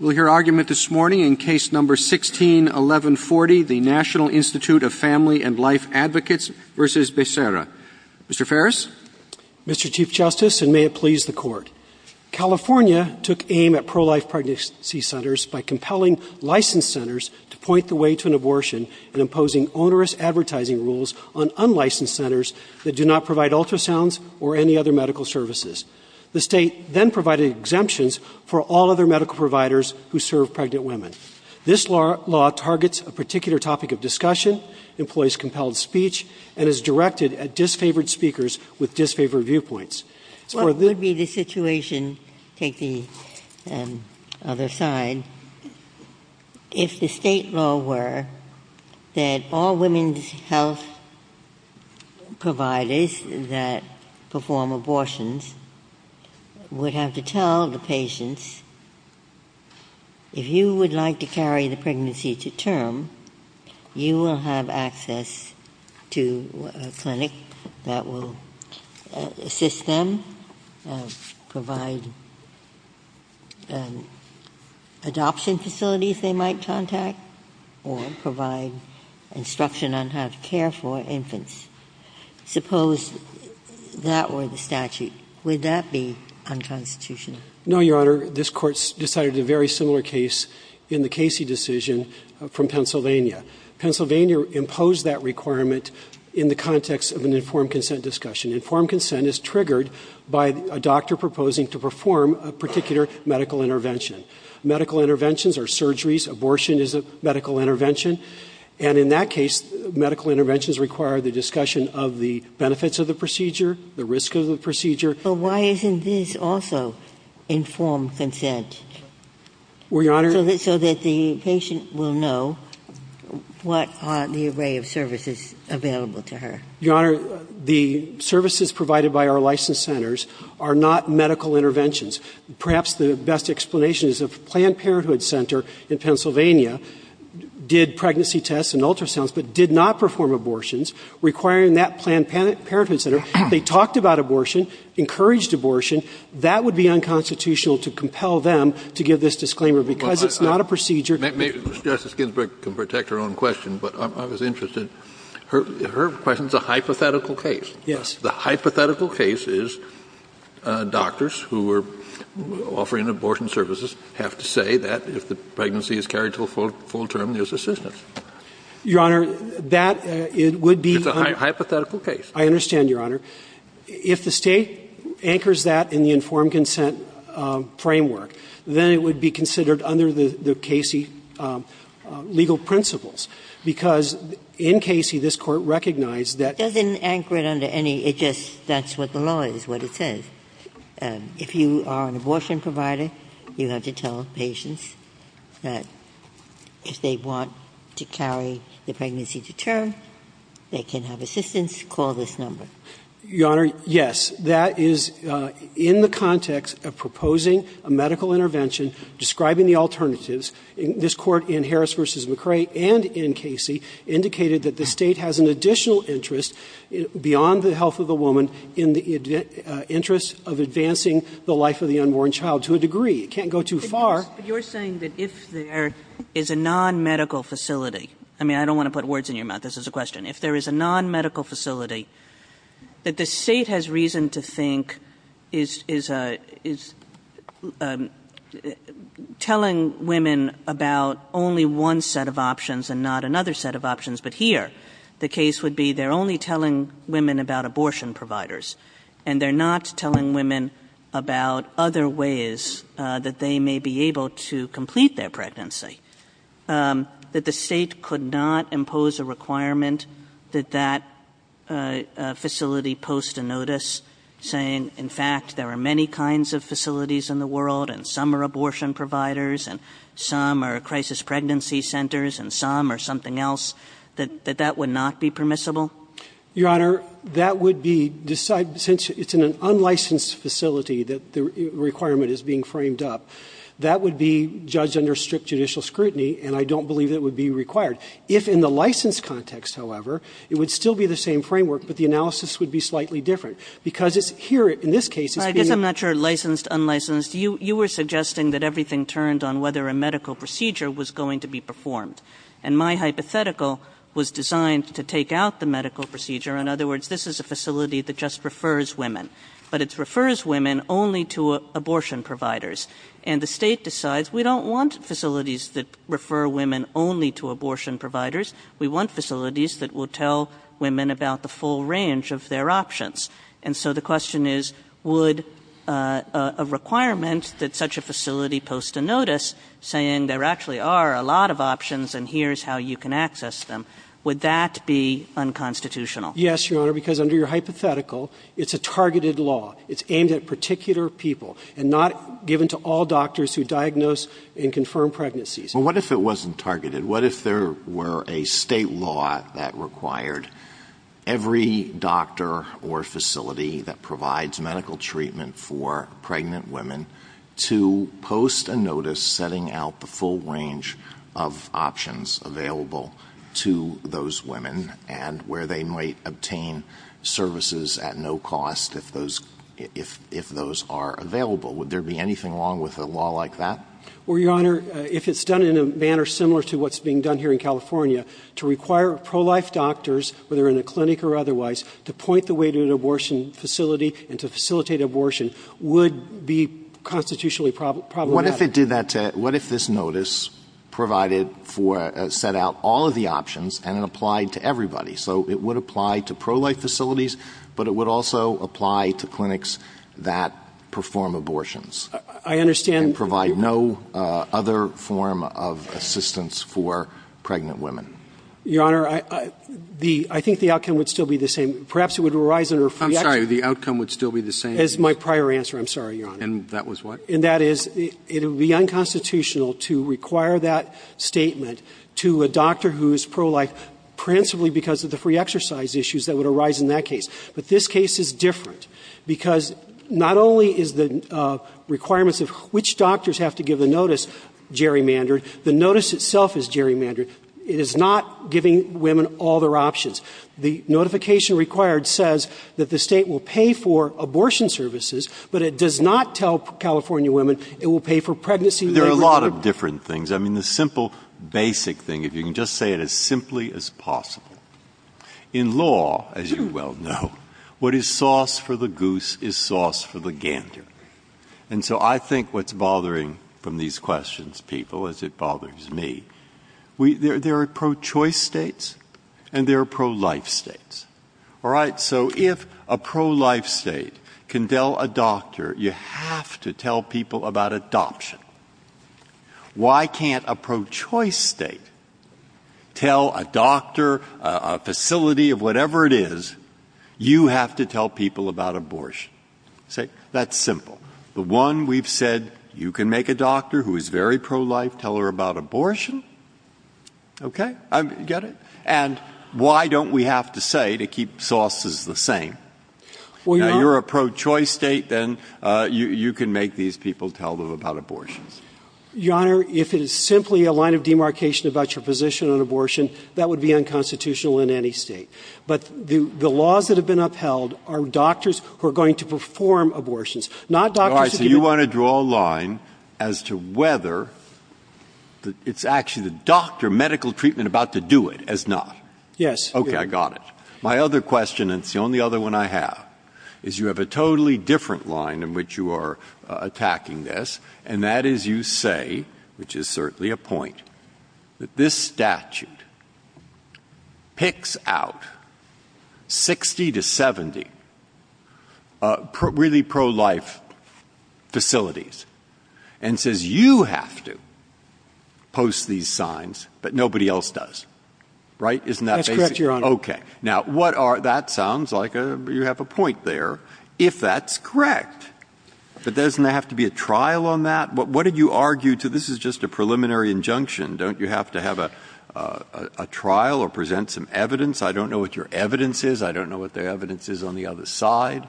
We'll hear argument this morning in Case No. 161140, the National Institute of Family and Life Advocates v. Becerra. Mr. Farris? Mr. Chief Justice, and may it please the Court, California took aim at pro-life pregnancy centers by compelling licensed centers to point the way to an abortion and imposing onerous advertising rules on unlicensed centers that do not provide ultrasounds or any other medical providers who serve pregnant women. This law targets a particular topic of discussion, employs compelled speech, and is directed at disfavored speakers with disfavored viewpoints. What would be the situation, take the other side, if the state law were that all women's health providers that perform abortions would have to tell the patients that they're pregnant? If you would like to carry the pregnancy to term, you will have access to a clinic that will assist them, provide adoption facilities they might contact, or provide instruction on how to care for infants. Suppose that were the statute. Would that be unconstitutional? No, Your Honor. This Court decided a very similar case in the Casey decision from Pennsylvania. Pennsylvania imposed that requirement in the context of an informed consent discussion. Informed consent is triggered by a doctor proposing to perform a particular medical intervention. Medical interventions are surgeries. Abortion is a medical intervention. And in that case, medical interventions require the discussion of the benefits of the procedure, the risk of the procedure. But why isn't this also informed consent? Well, Your Honor So that the patient will know what are the array of services available to her. Your Honor, the services provided by our licensed centers are not medical interventions. Perhaps the best explanation is if Planned Parenthood Center in Pennsylvania did pregnancy tests and ultrasounds, but did not perform abortions, requiring that Planned Parenthood Center, they talked about abortion, encouraged abortion. That would be unconstitutional to compel them to give this disclaimer, because it's not a procedure. Justice Ginsburg can protect her own question, but I was interested. Her question is a hypothetical case. Yes. The hypothetical case is doctors who are offering abortion services have to say that if the pregnancy is carried to a full term, there's assistance. Your Honor, that would be It's a hypothetical case. I understand, Your Honor. If the State anchors that in the informed consent framework, then it would be considered under the Cayce legal principles, because in Cayce, this Court recognized that It doesn't anchor it under any, it just, that's what the law is, what it says. If you are an abortion provider, you have to tell patients that if they want to carry the pregnancy to term, they can have assistance, call this number. Your Honor, yes. That is in the context of proposing a medical intervention, describing the alternatives. This Court in Harris v. McCrae and in Cayce indicated that the State has an additional interest beyond the health of the woman in the interest of advancing the life of the unborn child to a degree. It can't go too far. Kagan. But you're saying that if there is a nonmedical facility, I mean, I don't want to put words in your mouth, this is a question, if there is a nonmedical facility, that the State has reason to think is telling women about only one set of options and not another set of options, but here, the case would be they're only telling women about abortion providers, and they're not telling women about other ways that they may be able to complete their pregnancy, that the State could not impose a requirement that that facility post a notice saying, in fact, there are many kinds of facilities in the world, and some are abortion providers, and some are crisis pregnancy centers, and some are something else, that that would not be permissible? Your Honor, that would be, since it's in an unlicensed facility that the requirement is being framed up, that would be judged under strict judicial scrutiny, and I don't believe it would be required. If in the licensed context, however, it would still be the same framework, but the analysis would be slightly different, because it's here, in this case, it's being licensed. Kagan. I guess I'm not sure licensed, unlicensed. You were suggesting that everything turned on whether a medical procedure was going to be performed, and my hypothetical was designed to take out the medical procedure. In other words, this is a facility that just refers women, but it refers women only to abortion providers. And the State decides, we don't want facilities that refer women only to abortion providers. We want facilities that will tell women about the full range of their options. And so the question is, would a requirement that such a facility post a notice saying there actually are a lot of options and here's how you can access them, would that be unconstitutional? Yes, Your Honor, because under your hypothetical, it's a targeted law. It's aimed at particular people and not given to all doctors who diagnose and confirm pregnancies. Well, what if it wasn't targeted? What if there were a State law that required every doctor or facility that provides medical treatment for pregnant women to post a notice setting out the full range of options available to those women and where they might obtain services at no cost if those are available? Would there be anything wrong with a law like that? Well, Your Honor, if it's done in a manner similar to what's being done here in California, to require pro-life doctors, whether in a clinic or otherwise, to point the way to an abortion facility and to facilitate abortion would be constitutionally problematic. What if it did that to – what if this notice provided for – set out all of the options and it applied to everybody? So it would apply to pro-life facilities, but it would also apply to clinics that perform abortions. I understand. And provide no other form of assistance for pregnant women. Your Honor, I think the outcome would still be the same. Perhaps it would arise under free – I'm sorry. The outcome would still be the same? That's my prior answer. I'm sorry, Your Honor. And that is it would be unconstitutional to require that statement to a doctor who is pro-life principally because of the free exercise issues that would arise in that case. But this case is different, because not only is the requirements of which doctors have to give the notice gerrymandered, the notice itself is gerrymandered. It is not giving women all their options. The notification required says that the State will pay for abortion services, but it does not tell California women it will pay for pregnancy. There are a lot of different things. I mean, the simple, basic thing, if you can just say it as simply as possible. In law, as you well know, what is sauce for the goose is sauce for the gander. And so I think what's bothering from these questions, people, as it bothers me, there are pro-choice states and there are pro-life states. All right? So if a pro-life state can tell a doctor, you have to tell people about adoption. Why can't a pro-choice state tell a doctor, a facility, of whatever it is, you have to tell people about abortion? See, that's simple. The one we've said, you can make a doctor who is very pro-life tell her about abortion. Okay, get it? And why don't we have to say, to keep sauces the same, now you're a pro-choice state, then you can make these people tell them about abortions. Your Honor, if it is simply a line of demarcation about your position on abortion, that would be unconstitutional in any state. But the laws that have been upheld are doctors who are going to perform abortions, not doctors who can- All right, so you want to draw a line as to whether it's actually the doctor, medical treatment, about to do it, as not. Yes. Okay, I got it. My other question, and it's the only other one I have, is you have a totally different line in which you are attacking this. And that is, you say, which is certainly a point, that this statute picks out 60 to 70 really pro-life facilities. And says, you have to post these signs, but nobody else does. Right, isn't that basic? That's correct, Your Honor. Okay. Now, that sounds like you have a point there, if that's correct. But doesn't there have to be a trial on that? What did you argue to, this is just a preliminary injunction, don't you have to have a trial or present some evidence? I don't know what your evidence is. I don't know what the evidence is on the other side.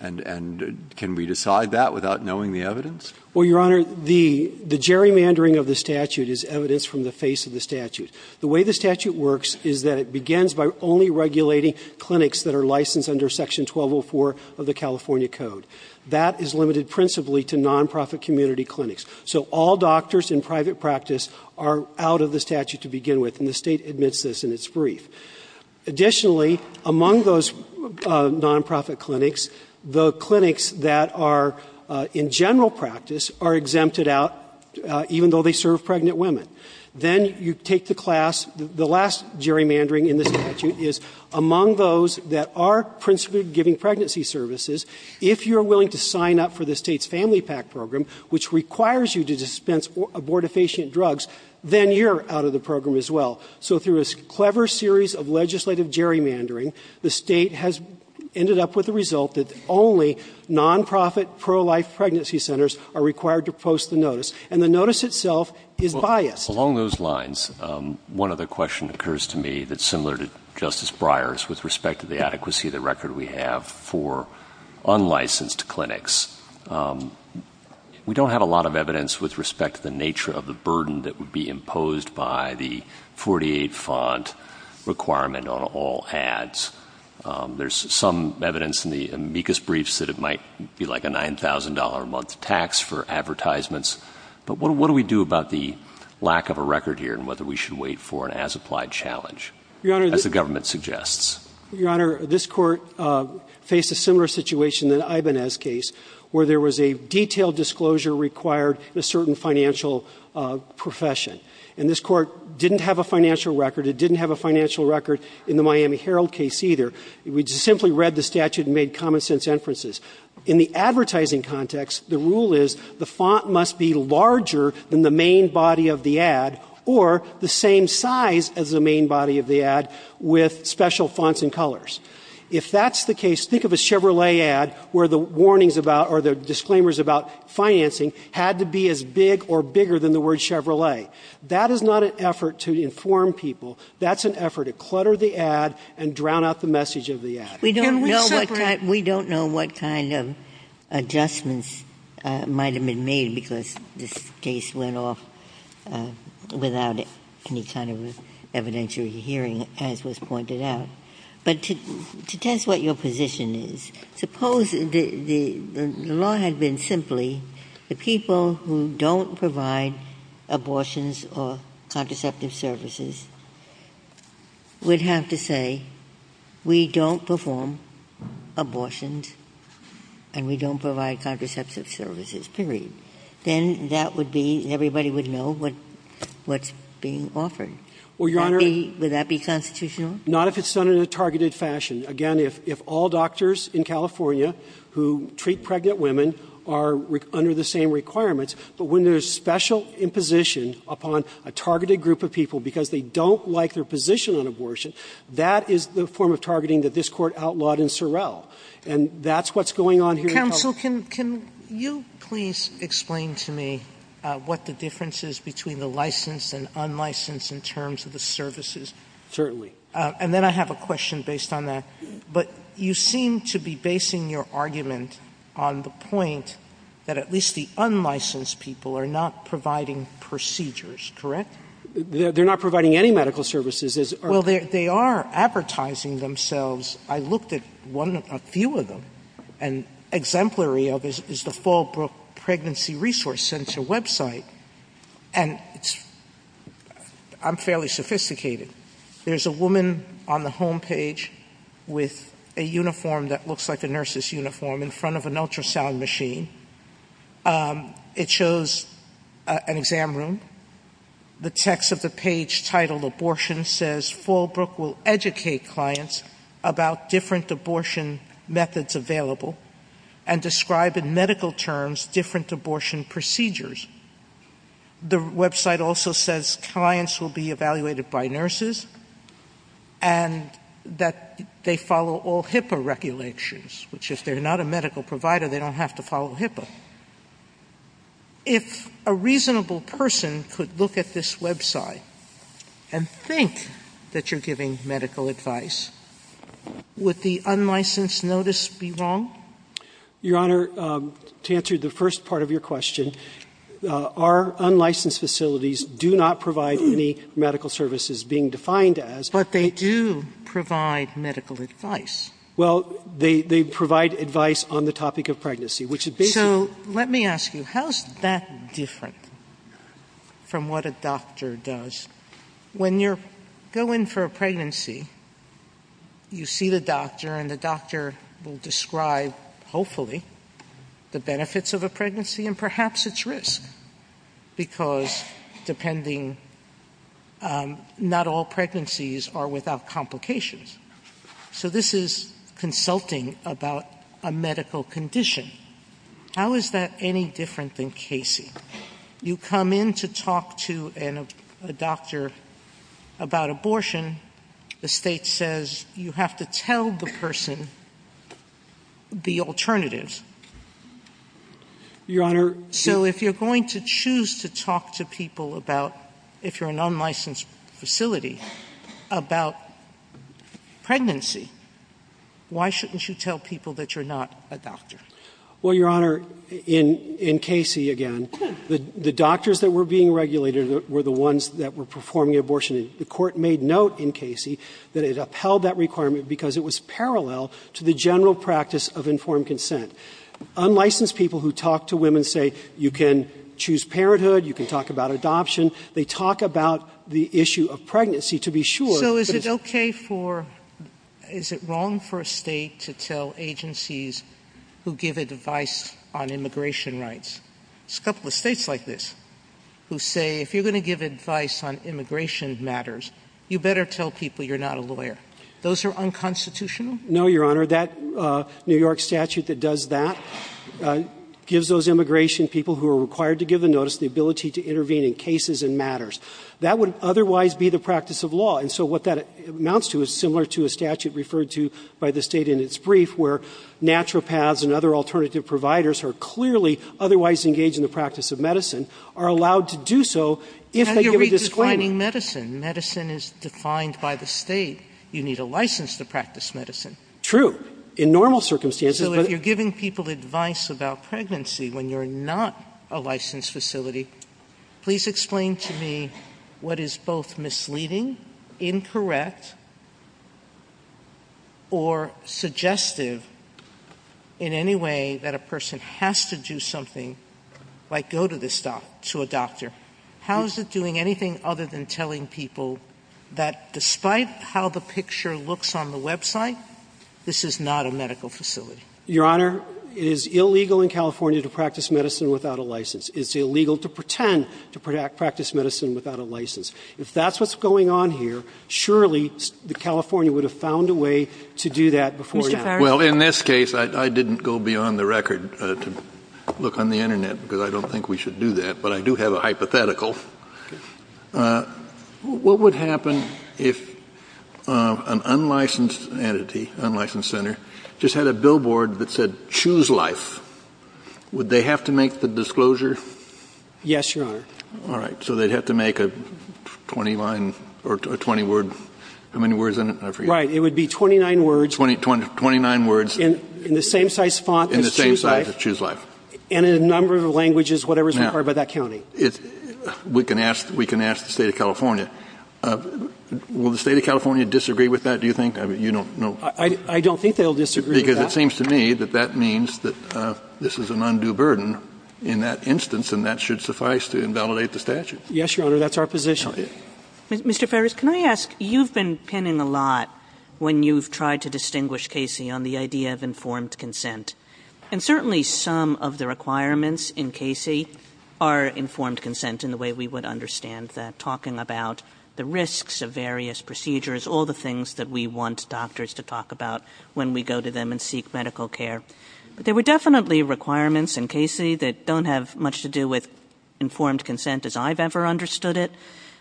And can we decide that without knowing the evidence? Well, Your Honor, the gerrymandering of the statute is evidence from the face of the statute. The way the statute works is that it begins by only regulating clinics that are licensed under section 1204 of the California Code. That is limited principally to non-profit community clinics. So all doctors in private practice are out of the statute to begin with, and the State admits this in its brief. Additionally, among those non-profit clinics, the clinics that are in general practice are exempted out, even though they serve pregnant women. Then you take the class, the last gerrymandering in the statute is among those that are principally giving pregnancy services. If you're willing to sign up for the State's Family PAC program, which requires you to dispense abortifacient drugs, then you're out of the program as well. So through a clever series of legislative gerrymandering, the State has ended up with the result that only non-profit pro-life pregnancy centers are required to post the notice. And the notice itself is biased. Along those lines, one other question occurs to me that's similar to Justice Breyer's with respect to the adequacy of the record we have for unlicensed clinics. We don't have a lot of evidence with respect to the nature of the burden that would be imposed by the 48 font requirement on all ads. There's some evidence in the amicus briefs that it might be like a $9,000 a month tax for advertisements. But what do we do about the lack of a record here and whether we should wait for an as-applied challenge, as the government suggests? Your Honor, this court faced a similar situation in the Ibanez case, where there was a detailed disclosure required in a certain financial profession. And this court didn't have a financial record. It didn't have a financial record in the Miami Herald case either. We just simply read the statute and made common sense inferences. In the advertising context, the rule is the font must be larger than the main body of the ad or the same size as the main body of the ad with special fonts and colors. If that's the case, think of a Chevrolet ad where the warnings about or the disclaimers about financing had to be as big or bigger than the word Chevrolet. That is not an effort to inform people. That's an effort to clutter the ad and drown out the message of the ad. Ginsburg. Can we separate? Ginsburg. We don't know what kind of adjustments might have been made because this case went off without any kind of evidentiary hearing, as was pointed out. But to test what your position is, suppose the law had been simply the people who don't provide abortions or contraceptive services would have to say, we don't perform abortions and we don't provide contraceptive services, period. Then that would be, everybody would know what's being offered. Would that be constitutional? Not if it's done in a targeted fashion. Again, if all doctors in California who treat pregnant women are under the same requirements, but when there's special imposition upon a targeted group of people because they don't like their position on abortion, that is the form of targeting that this court outlawed in Sorrell. And that's what's going on here in California. Counsel, can you please explain to me what the difference is between the licensed and unlicensed in terms of the services? Certainly. And then I have a question based on that. But you seem to be basing your argument on the point that at least the unlicensed people are not providing procedures, correct? They're not providing any medical services. Well, they are advertising themselves. I looked at one, a few of them, and exemplary of it is the Fallbrook Pregnancy Resource Center website, and it's – I'm fairly sophisticated. There's a woman on the homepage with a uniform that looks like a nurse's uniform in front of an ultrasound machine. It shows an exam room. The text of the page titled Abortion says, Fallbrook will educate clients about different abortion methods available and describe in medical terms different abortion procedures. The website also says clients will be evaluated by nurses and that they follow all HIPAA regulations, which if they're not a medical provider, they don't have to follow HIPAA. If a reasonable person could look at this website and think that you're giving medical advice, would the unlicensed notice be wrong? Your Honor, to answer the first part of your question, our unlicensed facilities do not provide any medical services being defined as – But they do provide medical advice. Well, they provide advice on the topic of pregnancy, which it basically – So let me ask you, how is that different from what a doctor does? When you go in for a pregnancy, you see the doctor, and the doctor will describe, hopefully, the benefits of a pregnancy and perhaps its risk. Because, depending, not all pregnancies are without complications. So this is consulting about a medical condition. How is that any different than Casey? You come in to talk to a doctor about abortion. The State says you have to tell the person the alternatives. Your Honor – So if you're going to choose to talk to people about, if you're an unlicensed facility, about pregnancy, why shouldn't you tell people that you're not a doctor? Well, Your Honor, in Casey, again, the doctors that were being regulated were the ones that were performing abortion. The Court made note in Casey that it upheld that requirement because it was parallel to the general practice of informed consent. Unlicensed people who talk to women say, you can choose parenthood, you can talk about adoption, they talk about the issue of pregnancy to be sure, but it's – So is it okay for – is it wrong for a State to tell agencies who give advice on immigration rights? There's a couple of States like this who say, if you're going to give advice on immigration matters, you better tell people you're not a lawyer. Those are unconstitutional? No, Your Honor. That New York statute that does that gives those immigration people who are required to give the notice the ability to intervene in cases and matters. That would otherwise be the practice of law. And so what that amounts to is similar to a statute referred to by the State in its brief where naturopaths and other alternative providers are clearly otherwise engaged in the practice of medicine, are allowed to do so if they give a disclaiming – Medicine is defined by the State. You need a license to practice medicine. True. In normal circumstances, but – So if you're giving people advice about pregnancy when you're not a licensed facility, please explain to me what is both misleading, incorrect, or suggestive in any way that a person has to do something, like go to this doctor – to a doctor. How is it doing anything other than telling people that despite how the picture looks on the website, this is not a medical facility? Your Honor, it is illegal in California to practice medicine without a license. It's illegal to pretend to practice medicine without a license. If that's what's going on here, surely California would have found a way to do that before now. Mr. Farris. Well, in this case, I didn't go beyond the record to look on the Internet because I don't think we should do that, but I do have a hypothetical. What would happen if an unlicensed entity, unlicensed center, just had a billboard that said, Choose Life, would they have to make the disclosure? Yes, Your Honor. All right. So they'd have to make a 20-line – or a 20-word – how many words in it? I forget. Right. It would be 29 words – Twenty – 29 words – In the same size font as Choose Life. In the same size as Choose Life. And in a number of languages, whatever is required by that county. Now, we can ask the State of California. Will the State of California disagree with that, do you think? I mean, you don't know. I don't think they'll disagree with that. Because it seems to me that that means that this is an undue burden in that instance, and that should suffice to invalidate the statute. Yes, Your Honor. That's our position. Mr. Farris, can I ask, you've been pinning a lot when you've tried to distinguish Casey on the idea of informed consent. And certainly some of the requirements in Casey are informed consent in the way we would understand that, talking about the risks of various procedures, all the things that we want doctors to talk about when we go to them and seek medical care. But there were definitely requirements in Casey that don't have much to do with informed consent as I've ever understood it.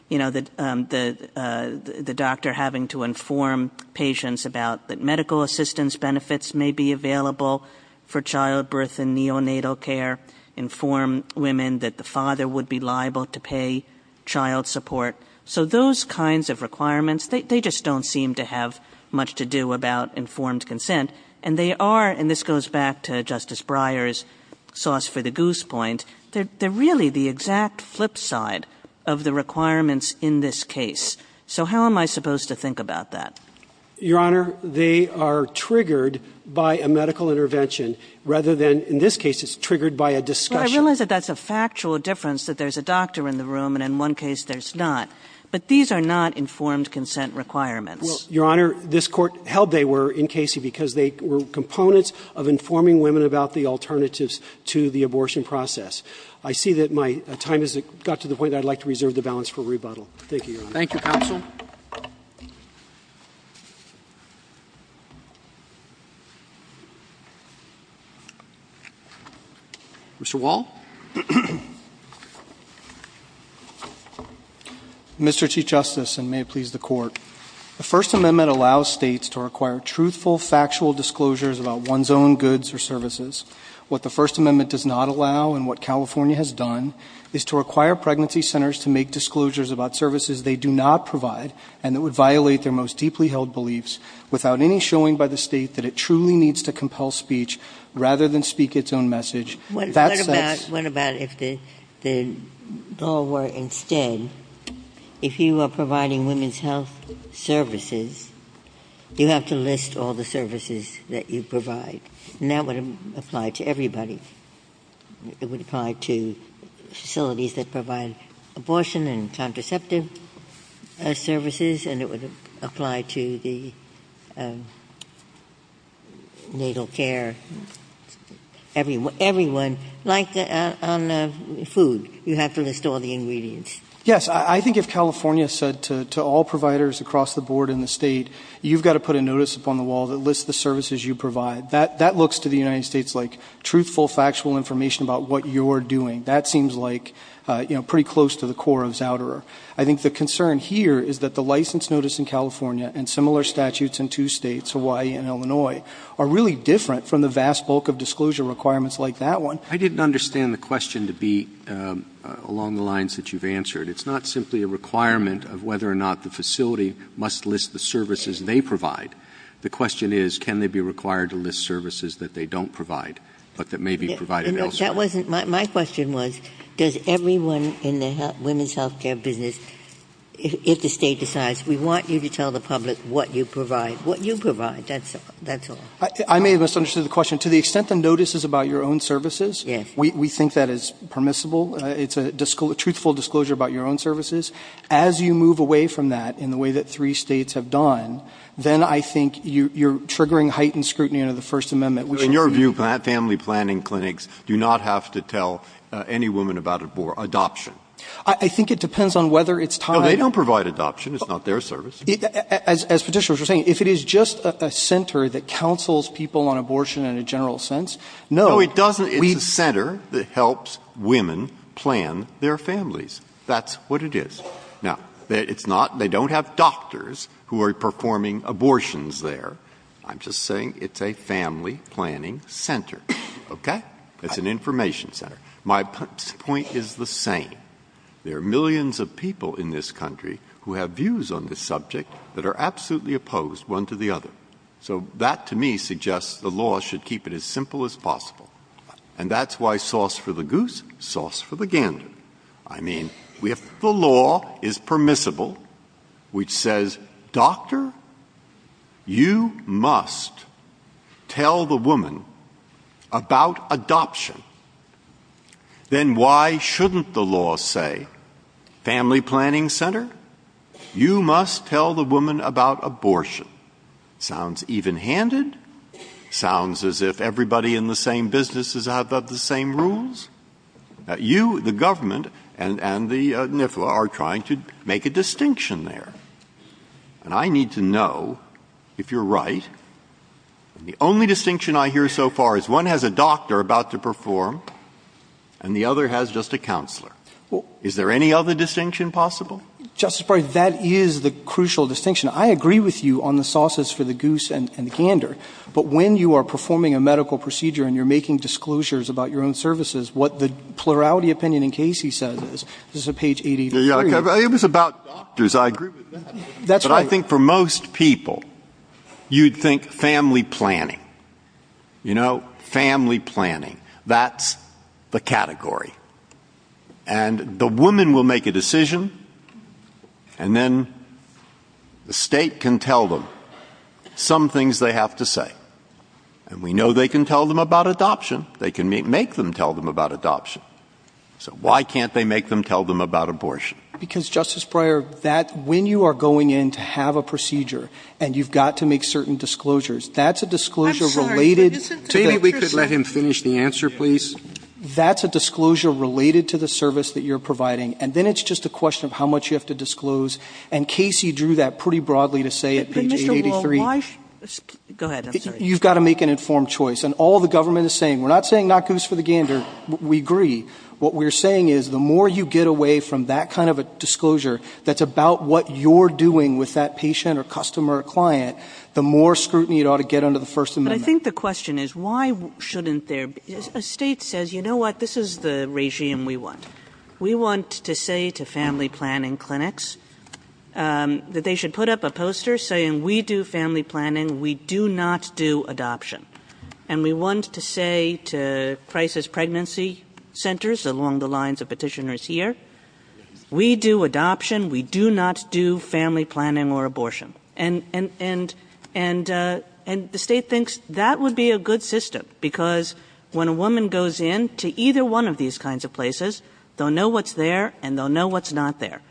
You know, the doctor having to inform patients about that medical assistance benefits may be available for childbirth and neonatal care, inform women that the father would be liable to pay child support. So those kinds of requirements, they just don't seem to have much to do about informed consent. And they are, and this goes back to Justice Breyer's sauce for the goose point, they're really the exact flip side of the requirements in this case. So how am I supposed to think about that? Your Honor, they are triggered by a medical intervention rather than, in this case, it's triggered by a discussion. Well, I realize that that's a factual difference, that there's a doctor in the room and in one case there's not. But these are not informed consent requirements. Well, Your Honor, this Court held they were in Casey because they were components of informing women about the alternatives to the abortion process. I see that my time has got to the point that I'd like to reserve the balance for rebuttal. Thank you, Your Honor. Thank you, counsel. Mr. Wall. Mr. Chief Justice, and may it please the Court, the First Amendment allows states to require truthful, factual disclosures about one's own goods or services. What the First Amendment does not allow and what California has done is to require pregnancy centers to make disclosures about services they do not provide and that violate their most deeply held beliefs without any showing by the State that it truly needs to compel speech rather than speak its own message. What about if the law were, instead, if you are providing women's health services, you have to list all the services that you provide. And that would apply to everybody. It would apply to facilities that provide abortion and contraceptive services. And it would apply to the natal care. Everyone. Like on food, you have to list all the ingredients. Yes, I think if California said to all providers across the board in the State, you've got to put a notice upon the wall that lists the services you provide, that looks to the United States like truthful, factual information about what you're doing. That seems like, you know, pretty close to the core of Zouderer. I think the concern here is that the license notice in California and similar statutes in two States, Hawaii and Illinois, are really different from the vast bulk of disclosure requirements like that one. I didn't understand the question to be along the lines that you've answered. It's not simply a requirement of whether or not the facility must list the services they provide. The question is, can they be required to list services that they don't provide, but that may be provided elsewhere? My question was, does everyone in the women's health care business, if the State decides, we want you to tell the public what you provide, what you provide, that's all. I may have misunderstood the question. To the extent the notice is about your own services, we think that is permissible. It's a truthful disclosure about your own services. As you move away from that in the way that three States have done, then I think you're triggering heightened scrutiny under the First Amendment. In your view, family planning clinics do not have to tell any woman about adoption. I think it depends on whether it's time. No, they don't provide adoption. It's not their service. As Petitioners were saying, if it is just a center that counsels people on abortion in a general sense, no, we'd not. No, it doesn't. It's a center that helps women plan their families. That's what it is. Now, it's not they don't have doctors who are performing abortions there. I'm just saying it's a family planning center. Okay? It's an information center. My point is the same. There are millions of people in this country who have views on this subject that are absolutely opposed one to the other. So that to me suggests the law should keep it as simple as possible. And that's why sauce for the goose, sauce for the gander. I mean, if the law is permissible, which says, doctor, you must tell the woman about adoption, then why shouldn't the law say, family planning center, you must tell the woman about abortion? Sounds even handed. Sounds as if everybody in the same business is out of the same rules. You, the government, and the NIFLA are trying to make a distinction there. And I need to know if you're right. The only distinction I hear so far is one has a doctor about to perform and the other has just a counselor. Is there any other distinction possible? Justice Breyer, that is the crucial distinction. I agree with you on the sauces for the goose and the gander. But when you are performing a medical procedure and you're making disclosures about your own services, what the plurality opinion in case he says is, this is a page 83. Yeah, it was about doctors. I agree with that. That's right. But I think for most people, you'd think family planning. You know, family planning. That's the category. And the woman will make a decision. And then the state can tell them some things they have to say. And we know they can tell them about adoption. They can make them tell them about adoption. So why can't they make them tell them about abortion? Because, Justice Breyer, that when you are going in to have a procedure and you've got to make certain disclosures, that's a disclosure related to the career service. Maybe we could let him finish the answer, please. That's a disclosure related to the service that you're providing. And then it's just a question of how much you have to disclose. And Casey drew that pretty broadly to say at page 83. But, Mr. Wall, why go ahead. I'm sorry. You've got to make an informed choice. And all the government is saying, we're not saying not goose for the gander. We agree. What we're saying is the more you get away from that kind of a disclosure that's about what you're doing with that patient or customer or client, the more scrutiny it ought to get under the First Amendment. But I think the question is, why shouldn't there be? A state says, you know what? This is the regime we want. We want to say to family planning clinics that they should put up a poster saying we do family planning. We do not do adoption. And we want to say to crisis pregnancy centers along the lines of petitioners here, we do adoption. We do not do family planning or abortion. And the state thinks that would be a good system. Because when a woman goes in to either one of these kinds of places, they'll know what's there and they'll know what's not there.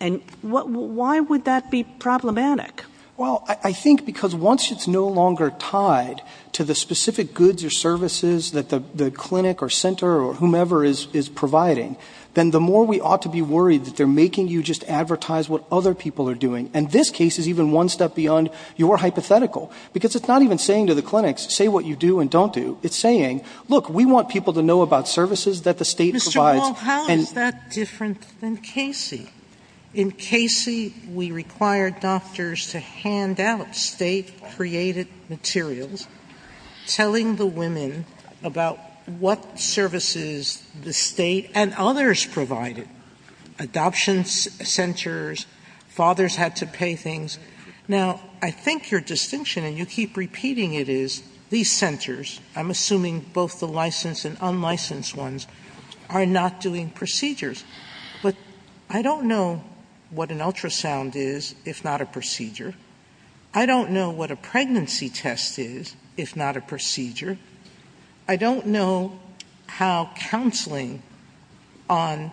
And why would that be problematic? Well, I think because once it's no longer tied to the specific goods or services that the clinic or center or whomever is providing, then the more we ought to be worried that they're making you just advertise what other people are doing. And this case is even one step beyond your hypothetical. Because it's not even saying to the clinics, say what you do and don't do. It's saying, look, we want people to know about services that the state provides. Mr. Wall, how is that different than Casey? In Casey, we required doctors to hand out state-created materials telling the women about what services the state and others provided. Adoption centers, fathers had to pay things. Now, I think your distinction, and you keep repeating it, is these centers, I'm assuming both the licensed and unlicensed ones, are not doing procedures. But I don't know what an ultrasound is if not a procedure. I don't know what a pregnancy test is if not a procedure. I don't know how counseling on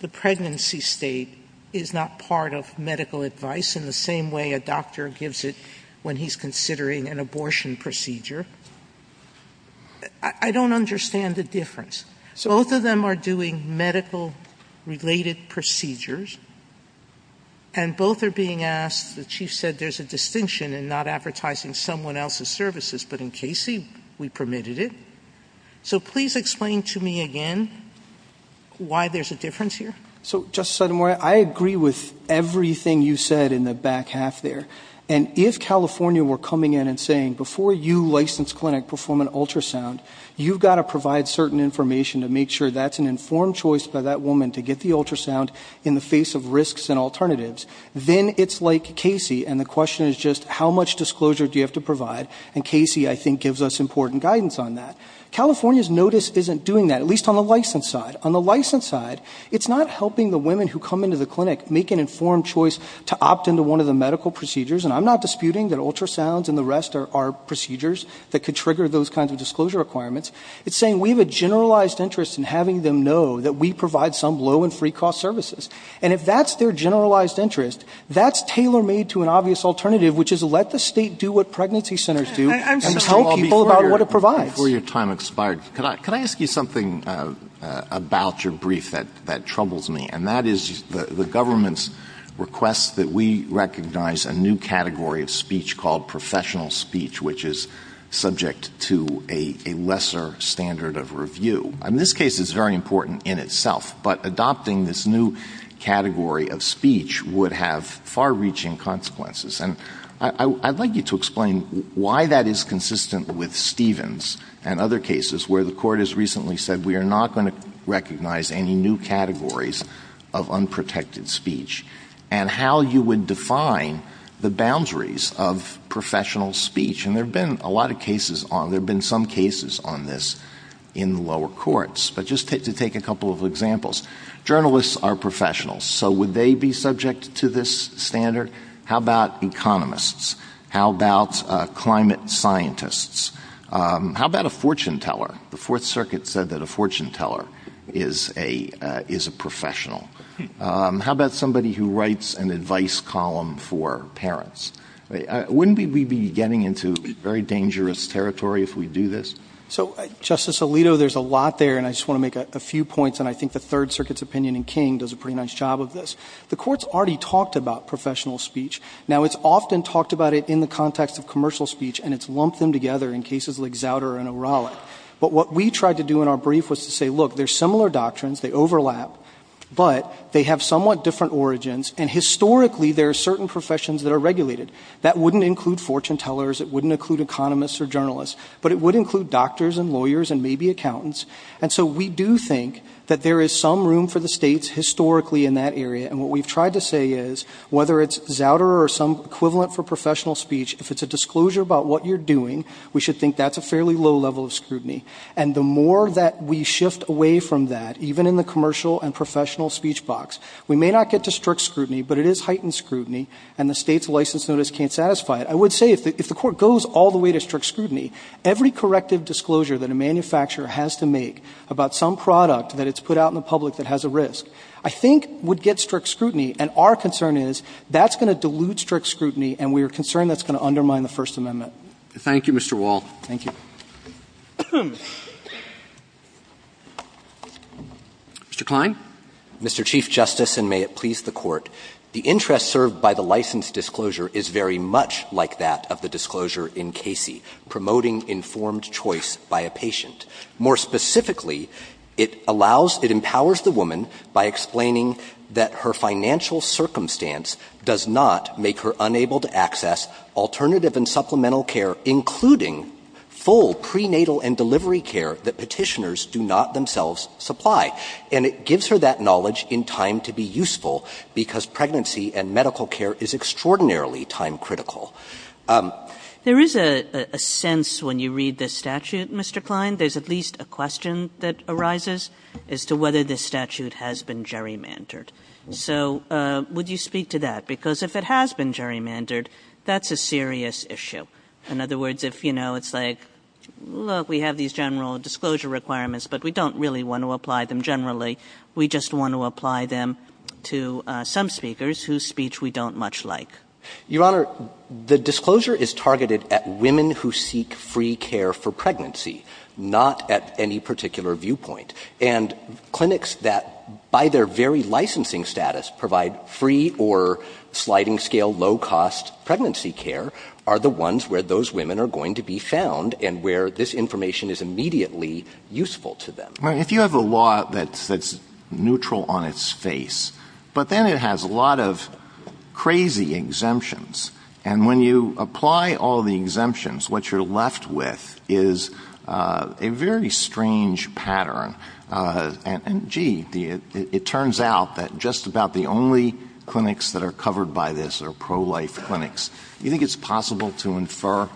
the pregnancy state is not part of medical advice in the same way a doctor gives it when he's considering an abortion procedure. I don't understand the difference. Both of them are doing medical-related procedures. And both are being asked, the Chief said there's a distinction in not advertising someone else's services. But in Casey, we permitted it. So please explain to me again why there's a difference here. So, Justice Sotomayor, I agree with everything you said in the back half there. And if California were coming in and saying, before you, licensed clinic, perform an ultrasound, you've got to provide certain information to make sure that's an informed choice by that woman to get the ultrasound in the face of risks and alternatives, then it's like Casey. And the question is just, how much disclosure do you have to provide? And Casey, I think, gives us important guidance on that. California's notice isn't doing that, at least on the licensed side. On the licensed side, it's not helping the women who come into the clinic make an informed choice to opt into one of the medical procedures. And I'm not disputing that ultrasounds and the rest are procedures that could trigger those kinds of disclosure requirements. It's saying we have a generalized interest in having them know that we provide some low and free cost services. And if that's their generalized interest, that's tailor-made to an obvious alternative, which is let the state do what pregnancy centers do and tell people about what it provides. Before your time expires, can I ask you something about your brief that troubles me? And that is the government's request that we recognize a new category of speech called professional speech, which is subject to a lesser standard of review. In this case, it's very important in itself. But adopting this new category of speech would have far-reaching consequences. And I'd like you to explain why that is consistent with Stevens and other cases where the Court has recently said, we are not going to recognize any new categories of unprotected speech, and how you would define the boundaries of professional speech. And there have been a lot of cases, there have been some cases on this in the lower courts. But just to take a couple of examples. Journalists are professionals. So would they be subject to this standard? How about economists? How about climate scientists? How about a fortune teller? The Fourth Circuit said that a fortune teller is a professional. How about somebody who writes an advice column for parents? Wouldn't we be getting into very dangerous territory if we do this? So, Justice Alito, there's a lot there, and I just want to make a few points, and I think the Third Circuit's opinion in King does a pretty nice job of this. The Court's already talked about professional speech. Now, it's often talked about it in the context of commercial speech, and it's lumped them together in cases like Zauder and O'Reilly. But what we tried to do in our brief was to say, look, they're similar doctrines, they overlap. But they have somewhat different origins. And historically, there are certain professions that are regulated. That wouldn't include fortune tellers. It wouldn't include economists or journalists. But it would include doctors and lawyers and maybe accountants. And so we do think that there is some room for the states, historically, in that area. And what we've tried to say is, whether it's Zauder or some equivalent for professional speech, if it's a disclosure about what you're doing, we should think that's a fairly low level of scrutiny. And the more that we shift away from that, even in the commercial and professional speech box, we may not get to strict scrutiny, but it is heightened scrutiny. And the State's license notice can't satisfy it. I would say, if the Court goes all the way to strict scrutiny, every corrective disclosure that a manufacturer has to make about some product that it's put out in the public that has a risk, I think would get strict scrutiny. And our concern is, that's going to dilute strict scrutiny, and we are concerned that's going to undermine the First Amendment. Roberts. Thank you, Mr. Wall. Thank you. Mr. Kline. Mr. Chief Justice, and may it please the Court. The interest served by the license disclosure is very much like that of the disclosure in Casey, promoting informed choice by a patient. More specifically, it allows — it empowers the woman by explaining that her financial and medical care, including full prenatal and delivery care that Petitioners do not themselves supply. And it gives her that knowledge in time to be useful, because pregnancy and medical care is extraordinarily time-critical. There is a sense when you read this statute, Mr. Kline, there's at least a question that arises as to whether this statute has been gerrymandered. So would you speak to that? Because if it has been gerrymandered, that's a serious issue. In other words, if, you know, it's like, look, we have these general disclosure requirements, but we don't really want to apply them generally, we just want to apply them to some speakers whose speech we don't much like. Your Honor, the disclosure is targeted at women who seek free care for pregnancy, not at any particular viewpoint. And clinics that, by their very licensing status, provide free or sliding-scale, low-cost pregnancy care are the ones where those women are going to be found and where this information is immediately useful to them. If you have a law that's neutral on its face, but then it has a lot of crazy exemptions, and when you apply all the exemptions, what you're left with is a very strange pattern. And, gee, it turns out that just about the only clinics that are covered by this are pro-life clinics. Do you think it's possible to infer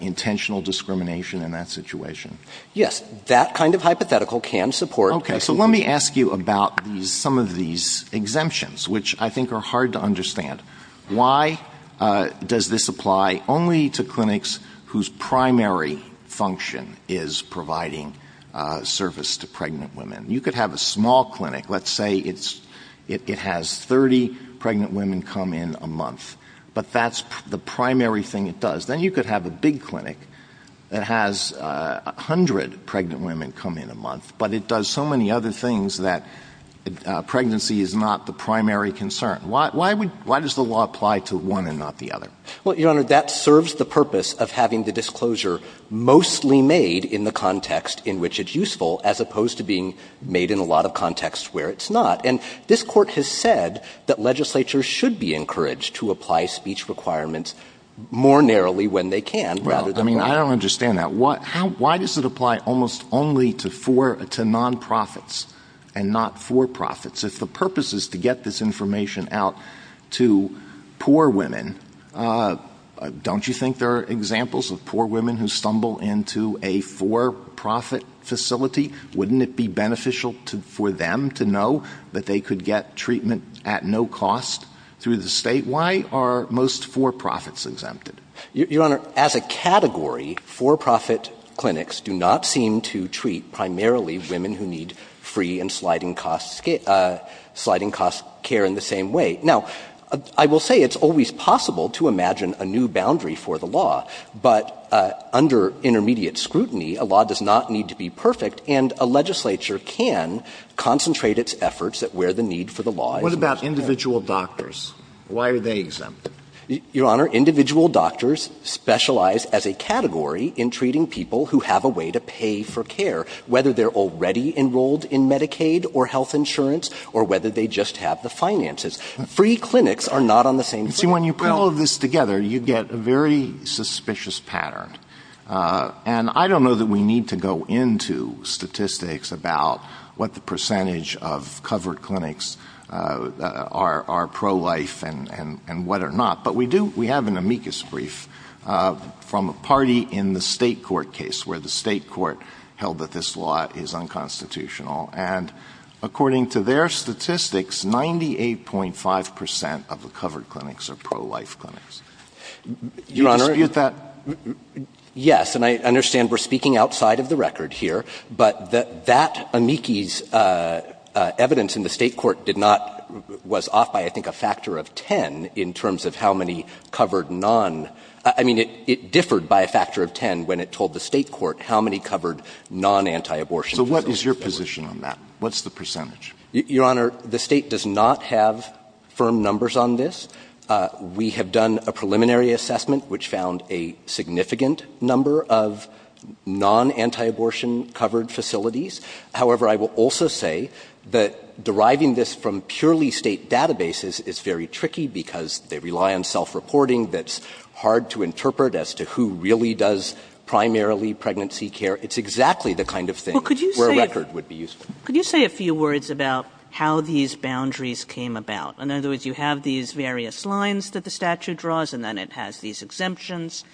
intentional discrimination in that situation? Yes. That kind of hypothetical can support. Okay. So let me ask you about some of these exemptions, which I think are hard to understand. Why does this apply only to clinics whose primary function is providing service to pregnant women? You could have a small clinic. Let's say it has 30 pregnant women come in a month. But that's the primary thing it does. Then you could have a big clinic that has 100 pregnant women come in a month. But it does so many other things that pregnancy is not the primary concern. Why does the law apply to one and not the other? Well, Your Honor, that serves the purpose of having the disclosure mostly made in the context in which it's useful, as opposed to being made in a lot of contexts where it's not. And this Court has said that legislatures should be encouraged to apply speech requirements more narrowly when they can rather than wide. Well, I mean, I don't understand that. Why does it apply almost only to non-profits and not for-profits? If the purpose is to get this information out to poor women, don't you think there are examples of poor women who stumble into a for-profit facility? Wouldn't it be beneficial for them to know that they could get treatment at no cost through the state? Why are most for-profits exempted? Your Honor, as a category, for-profit clinics do not seem to treat primarily women who need free and sliding-cost care in the same way. Now, I will say it's always possible to imagine a new boundary for the law, but under intermediate scrutiny, a law does not need to be perfect, and a legislature can concentrate its efforts at where the need for the law is most apparent. What about individual doctors? Why are they exempt? Your Honor, individual doctors specialize as a category in treating people who have a way to pay for care, whether they're already enrolled in Medicaid or health insurance or whether they just have the finances. Free clinics are not on the same page. See, when you put all of this together, you get a very suspicious pattern, and I don't know that we need to go into statistics about what the percentage of covered clinics are pro-life and what are not, but we do, we have an amicus brief from a party in the state court case where the state court held that this law is unconstitutional, and according to their statistics, 98.5 percent of the covered clinics are pro-life clinics. Do you dispute that? Yes, and I understand we're speaking outside of the record here, but that amicus evidence in the state court did not — was off by, I think, a factor of 10 in terms of how many covered non — I mean, it differed by a factor of 10 when it told the state court how many covered non-antiabortion facilities there were. So what is your position on that? What's the percentage? Your Honor, the State does not have firm numbers on this. We have done a preliminary assessment which found a significant number of non-antiabortion covered facilities. However, I will also say that deriving this from purely State databases is very tricky because they rely on self-reporting that's hard to interpret as to who really does primarily pregnancy care. It's exactly the kind of thing where a record would be useful. Well, could you say a few words about how these boundaries came about? In other words, you have these various lines that the statute draws, and then it has these exemptions.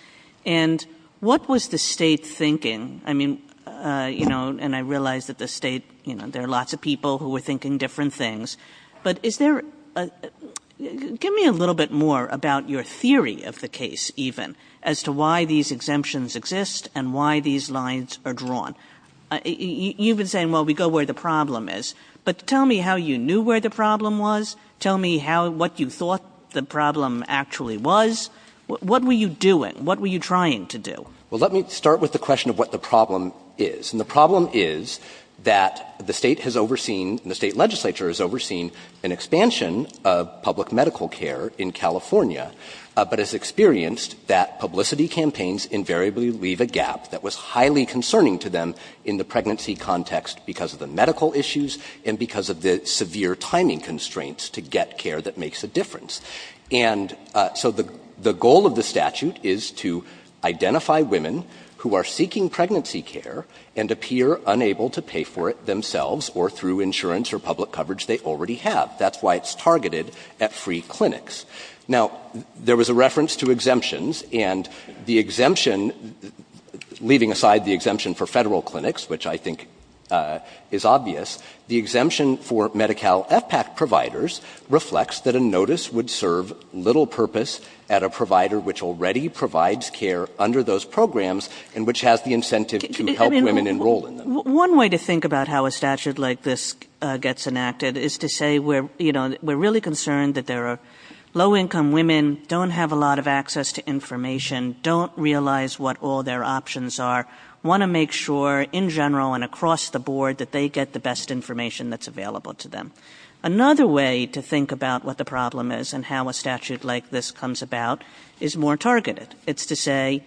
And what was the State thinking? I mean, you know, and I realize that the State — you know, there are lots of people who were thinking different things, but is there a — give me a little bit more about your theory of the case, even, as to why these exemptions exist and why these lines are drawn. You've been saying, well, we go where the problem is. But tell me how you knew where the problem was. Tell me how — what you thought the problem actually was. What were you doing? What were you trying to do? Well, let me start with the question of what the problem is. And the problem is that the State has overseen — the State legislature has overseen an expansion of public medical care in California. But it's experienced that publicity campaigns invariably leave a gap that was highly concerning to them in the pregnancy context because of the medical issues and because of the severe timing constraints to get care that makes a difference. And so the goal of the statute is to identify women who are seeking pregnancy care and appear unable to pay for it themselves or through insurance or public coverage they already have. That's why it's targeted at free clinics. Now, there was a reference to exemptions. And the exemption — leaving aside the exemption for federal clinics, which I think is obvious — the exemption for Medi-Cal FPAC providers reflects that a notice would serve little purpose at a provider which already provides care under those programs and which has the incentive to help women enroll in them. One way to think about how a statute like this gets enacted is to say we're — you Low-income women don't have a lot of access to information, don't realize what all their options are, want to make sure in general and across the board that they get the best information that's available to them. Another way to think about what the problem is and how a statute like this comes about is more targeted. It's to say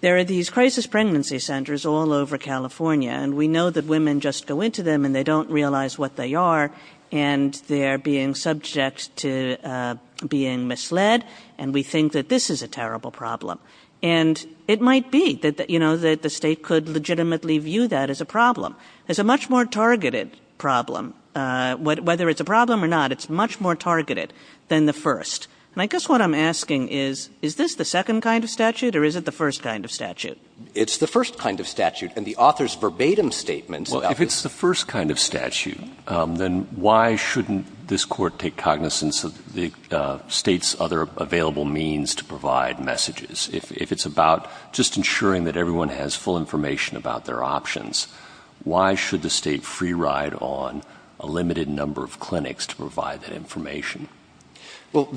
there are these crisis pregnancy centers all over California and we know that women just go into them and they don't realize what they are and they're being subject to being misled and we think that this is a terrible problem. And it might be that, you know, that the state could legitimately view that as a problem. It's a much more targeted problem. Whether it's a problem or not, it's much more targeted than the first. And I guess what I'm asking is, is this the second kind of statute or is it the first kind of statute? It's the first kind of statute. And the author's verbatim statement — If it's the first kind of statute, then why shouldn't this court take cognizance of the state's other available means to provide messages? If it's about just ensuring that everyone has full information about their options, why should the state free ride on a limited number of clinics to provide that information? Well,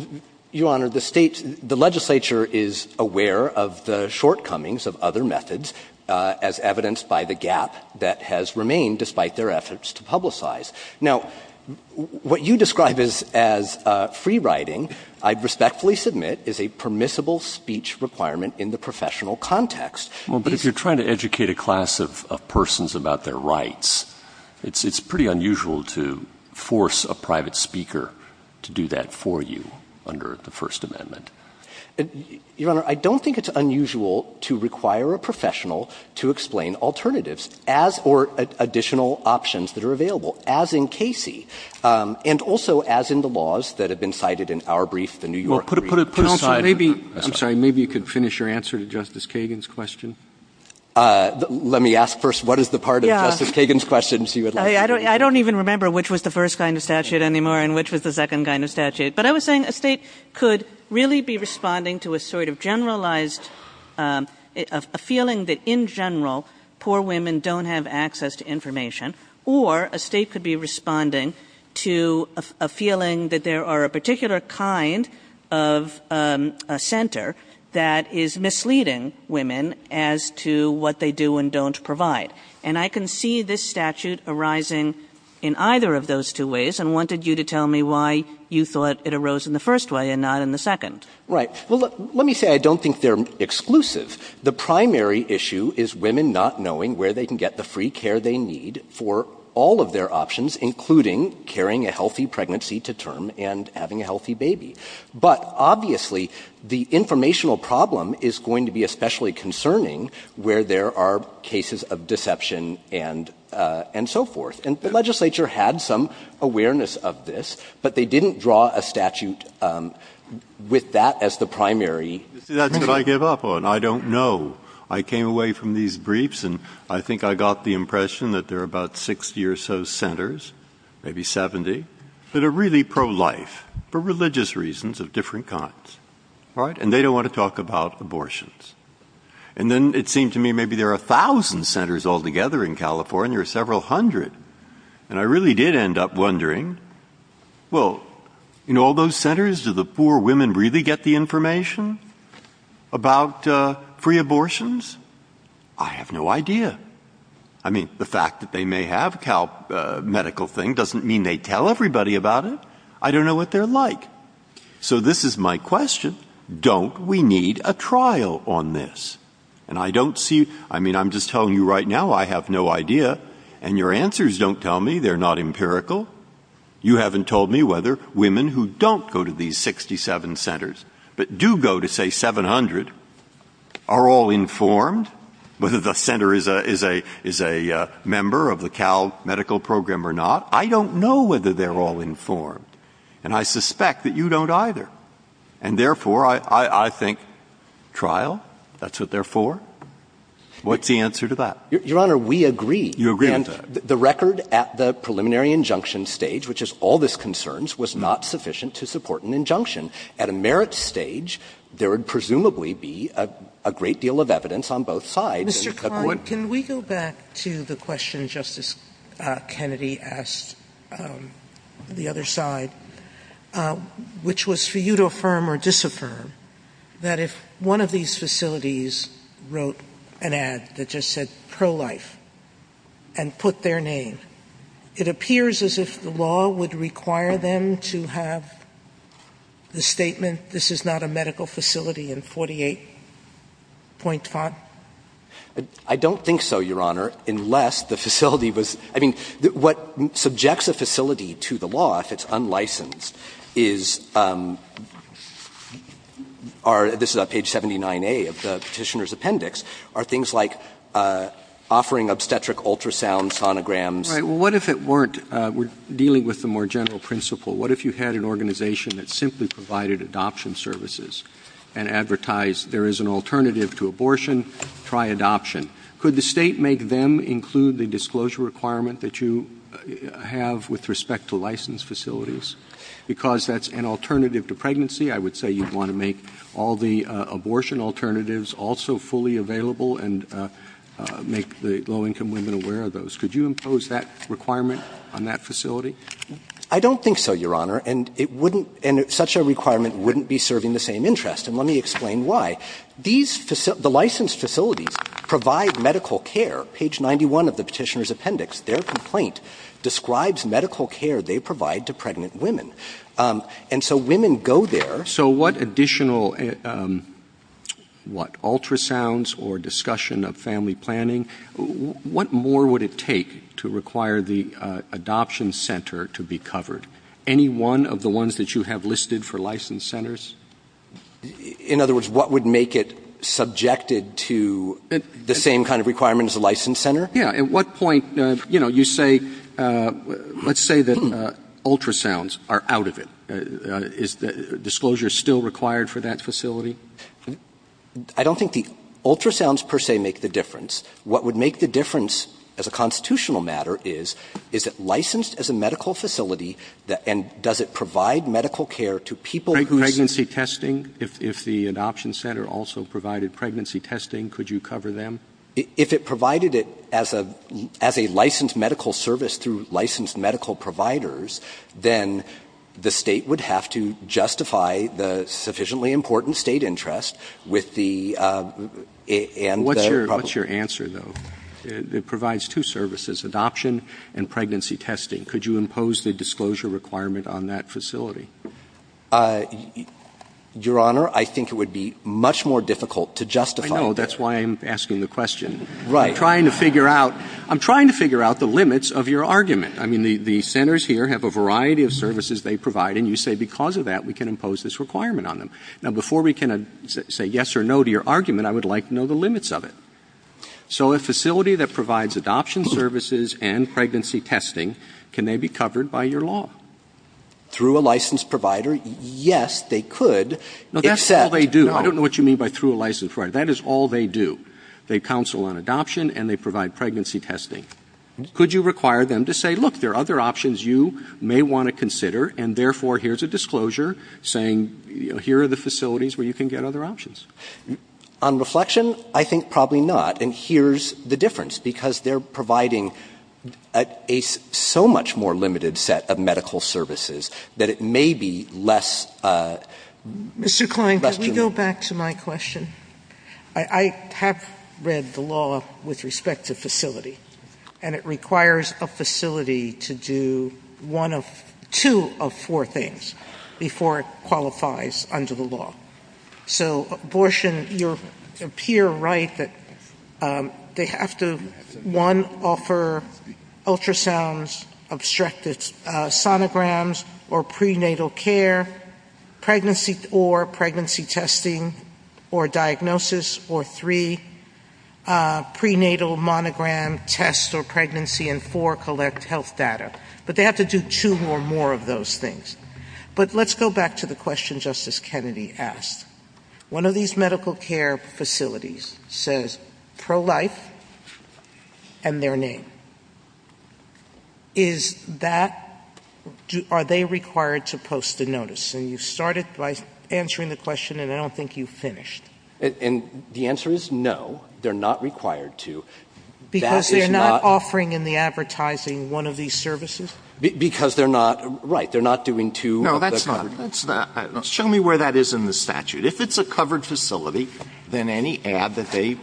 Your Honor, the state — the legislature is aware of the shortcomings of other methods, as evidenced by the gap that has remained despite their efforts to publicize. Now, what you describe as free riding, I respectfully submit, is a permissible speech requirement in the professional context. Well, but if you're trying to educate a class of persons about their rights, it's pretty unusual to force a private speaker to do that for you under the First Amendment. Your Honor, I don't think it's unusual to require a professional to explain alternatives as — or additional options that are available, as in Casey, and also as in the laws that have been cited in our brief, the New York brief. Well, put aside — Counsel, maybe — I'm sorry. Maybe you could finish your answer to Justice Kagan's question. Let me ask first what is the part of Justice Kagan's question, so you at least — I don't even remember which was the first kind of statute anymore and which was the second kind of statute. But I was saying a state could really be responding to a sort of generalized — a feeling that, in general, poor women don't have access to information, or a state could be responding to a feeling that there are a particular kind of a center that is misleading women as to what they do and don't provide. And I can see this statute arising in either of those two ways and wanted you to tell me why you thought it arose in the first way and not in the second. Right. Well, let me say I don't think they're exclusive. The primary issue is women not knowing where they can get the free care they need for all of their options, including carrying a healthy pregnancy to term and having a healthy baby. But obviously, the informational problem is going to be especially concerning where there are cases of deception and so forth. And the legislature had some awareness of this, but they didn't draw a statute with that as the primary — You see, that's what I give up on. I don't know. I came away from these briefs, and I think I got the impression that there are about 60 or so centers, maybe 70, that are really pro-life for religious reasons of different kinds. All right? And they don't want to talk about abortions. And then it seemed to me maybe there are a thousand centers altogether in California or several hundred. And I really did end up wondering, well, in all those centers, do the poor women really get the information about free abortions? I have no idea. I mean, the fact that they may have a medical thing doesn't mean they tell everybody about it. I don't know what they're like. So this is my question. Don't we need a trial on this? And I don't see — I mean, I'm just telling you right now I have no idea, and your answers don't tell me they're not empirical. You haven't told me whether women who don't go to these 67 centers but do go to, say, 700, are all informed, whether the center is a member of the Cal medical program or not. I don't know whether they're all informed. And I suspect that you don't either. And therefore, I think trial, that's what they're for. What's the answer to that? Your Honor, we agree. You agree with that? And the record at the preliminary injunction stage, which is all this concerns, was not sufficient to support an injunction. At a merit stage, there would presumably be a great deal of evidence on both sides. Mr. Klein, can we go back to the question Justice Kennedy asked the other side, which was for you to affirm or disaffirm that if one of these facilities wrote an ad that just said pro-life and put their name, it appears as if the law would require them to have the statement, this is not a medical facility, in 48 point font? I don't think so, Your Honor, unless the facility was — I mean, what subjects a facility to the law, if it's unlicensed, is — are — this is on page 79A of the Petitioner's appendix — are things like offering obstetric ultrasound sonograms. Right. Well, what if it weren't? We're dealing with the more general principle. What if you had an organization that simply provided adoption services and advertised there is an alternative to abortion, try adoption? Could the State make them include the disclosure requirement that you have with respect to licensed facilities? Because that's an alternative to pregnancy, I would say you'd want to make all the abortion alternatives also fully available and make the low-income women aware of those. Could you impose that requirement on that facility? I don't think so, Your Honor, and it wouldn't — and such a requirement wouldn't be serving the same interest, and let me explain why. These — the licensed facilities provide medical care. Page 91 of the Petitioner's appendix, their complaint describes medical care they provide to pregnant women. And so women go there. So what additional — what, ultrasounds or discussion of family planning? What more would it take to require the adoption center to be covered? Any one of the ones that you have listed for licensed centers? In other words, what would make it subjected to the same kind of requirement as a licensed center? Yeah. At what point, you know, you say — let's say that ultrasounds are out of it. Is the disclosure still required for that facility? I don't think the ultrasounds per se make the difference. What would make the difference as a constitutional matter is, is it licensed as a medical facility and does it provide medical care to people who — Pregnancy testing? If the adoption center also provided pregnancy testing, could you cover them? If it provided it as a — as a licensed medical service through licensed medical providers, then the State would have to justify the sufficiently important State interest with the — and the — What's your — what's your answer, though? It provides two services, adoption and pregnancy testing. Could you impose the disclosure requirement on that facility? Your Honor, I think it would be much more difficult to justify that. I know. That's why I'm asking the question. Right. I'm trying to figure out — I'm trying to figure out the limits of your argument. I mean, the — the centers here have a variety of services they provide, and you say because of that, we can impose this requirement on them. Now, before we can say yes or no to your argument, I would like to know the limits of it. So a facility that provides adoption services and pregnancy testing, can they be covered by your law? Through a licensed provider, yes, they could, except — No, that's all they do. I don't know what you mean by through a licensed provider. That is all they do. They counsel on adoption and they provide pregnancy testing. Could you require them to say, look, there are other options you may want to consider, and therefore, here's a disclosure saying, you know, here are the facilities where you can get other options? On reflection, I think probably not. And here's the difference, because they're providing a — a so much more limited set of medical services, that it may be less — less human. Mr. Klein, can we go back to my question? I have read the law with respect to facility, and it requires a facility to do one of — two of four things before it qualifies under the law. So, Borshin, you appear right that they have to, one, offer ultrasounds, obstructed sonograms or prenatal care, pregnancy or pregnancy testing or diagnosis, or three, prenatal monogram tests or pregnancy, and four, collect health data. But they have to do two or more of those things. But let's go back to the question Justice Kennedy asked. One of these medical care facilities says Pro-Life and their name. Is that — are they required to post a notice? And you started by answering the question, and I don't think you finished. And the answer is no, they're not required to. Because they're not offering in the advertising one of these services? Because they're not — right. They're not doing two of the covered — No, that's not — show me where that is in the statute. If it's a covered facility, then any ad that they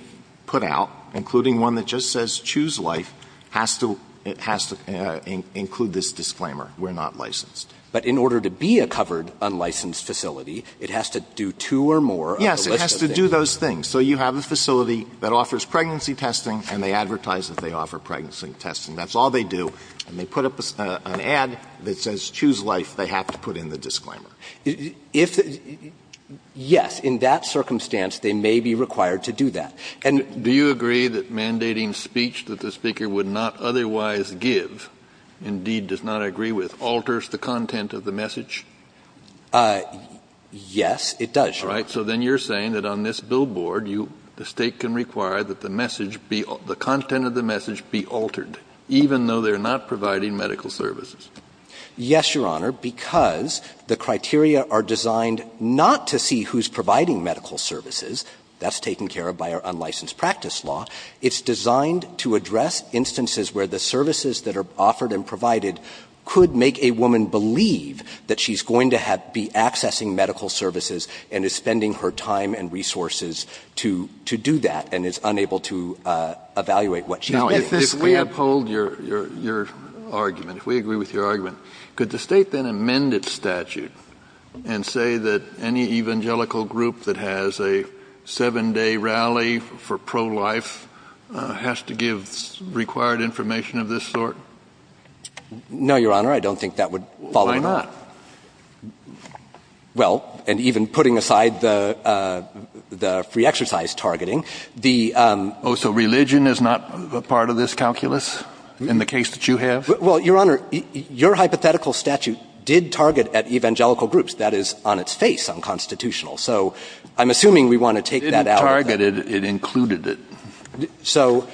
put out, including one that just says Choose Life, has to — it has to include this disclaimer, we're not licensed. But in order to be a covered, unlicensed facility, it has to do two or more of the list of things. Yes, it has to do those things. So you have a facility that offers pregnancy testing, and they advertise that they offer pregnancy testing. That's all they do. And they put up an ad that says Choose Life, they have to put in the disclaimer. If — yes, in that circumstance, they may be required to do that. And — Do you agree that mandating speech that the Speaker would not otherwise give, indeed does not agree with, alters the content of the message? Yes, it does, Your Honor. All right. So then you're saying that on this billboard, you — the State can require that the message be — the content of the message be altered. Even though they're not providing medical services. Yes, Your Honor, because the criteria are designed not to see who's providing medical services. That's taken care of by our unlicensed practice law. It's designed to address instances where the services that are offered and provided could make a woman believe that she's going to have — be accessing medical services and is spending her time and resources to — to do that, and is unable to evaluate what she's getting. Now, if we uphold your — your argument, if we agree with your argument, could the State then amend its statute and say that any evangelical group that has a seven-day rally for pro-life has to give required information of this sort? No, Your Honor, I don't think that would follow at all. Why not? Well, and even putting aside the — the free exercise targeting, the — Oh, so religion is not a part of this calculus in the case that you have? Well, Your Honor, your hypothetical statute did target at evangelical groups. That is on its face, unconstitutional. So I'm assuming we want to take that out. It didn't target it. It included it. So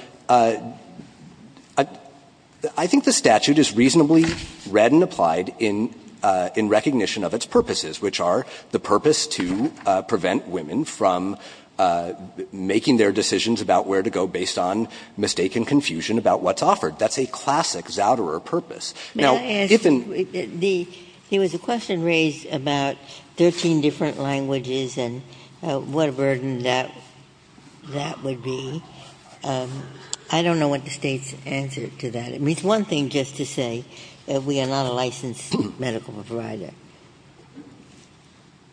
I think the statute is reasonably read and applied in — in recognition of its purposes, which are the purpose to prevent women from making their decisions about where to go based on mistaken confusion about what's offered. That's a classic Zouderer purpose. Now, if an — May I ask — there was a question raised about 13 different languages and what a burden that — that would be. I don't know what the State's answer to that. It means one thing just to say that we are not a licensed medical provider.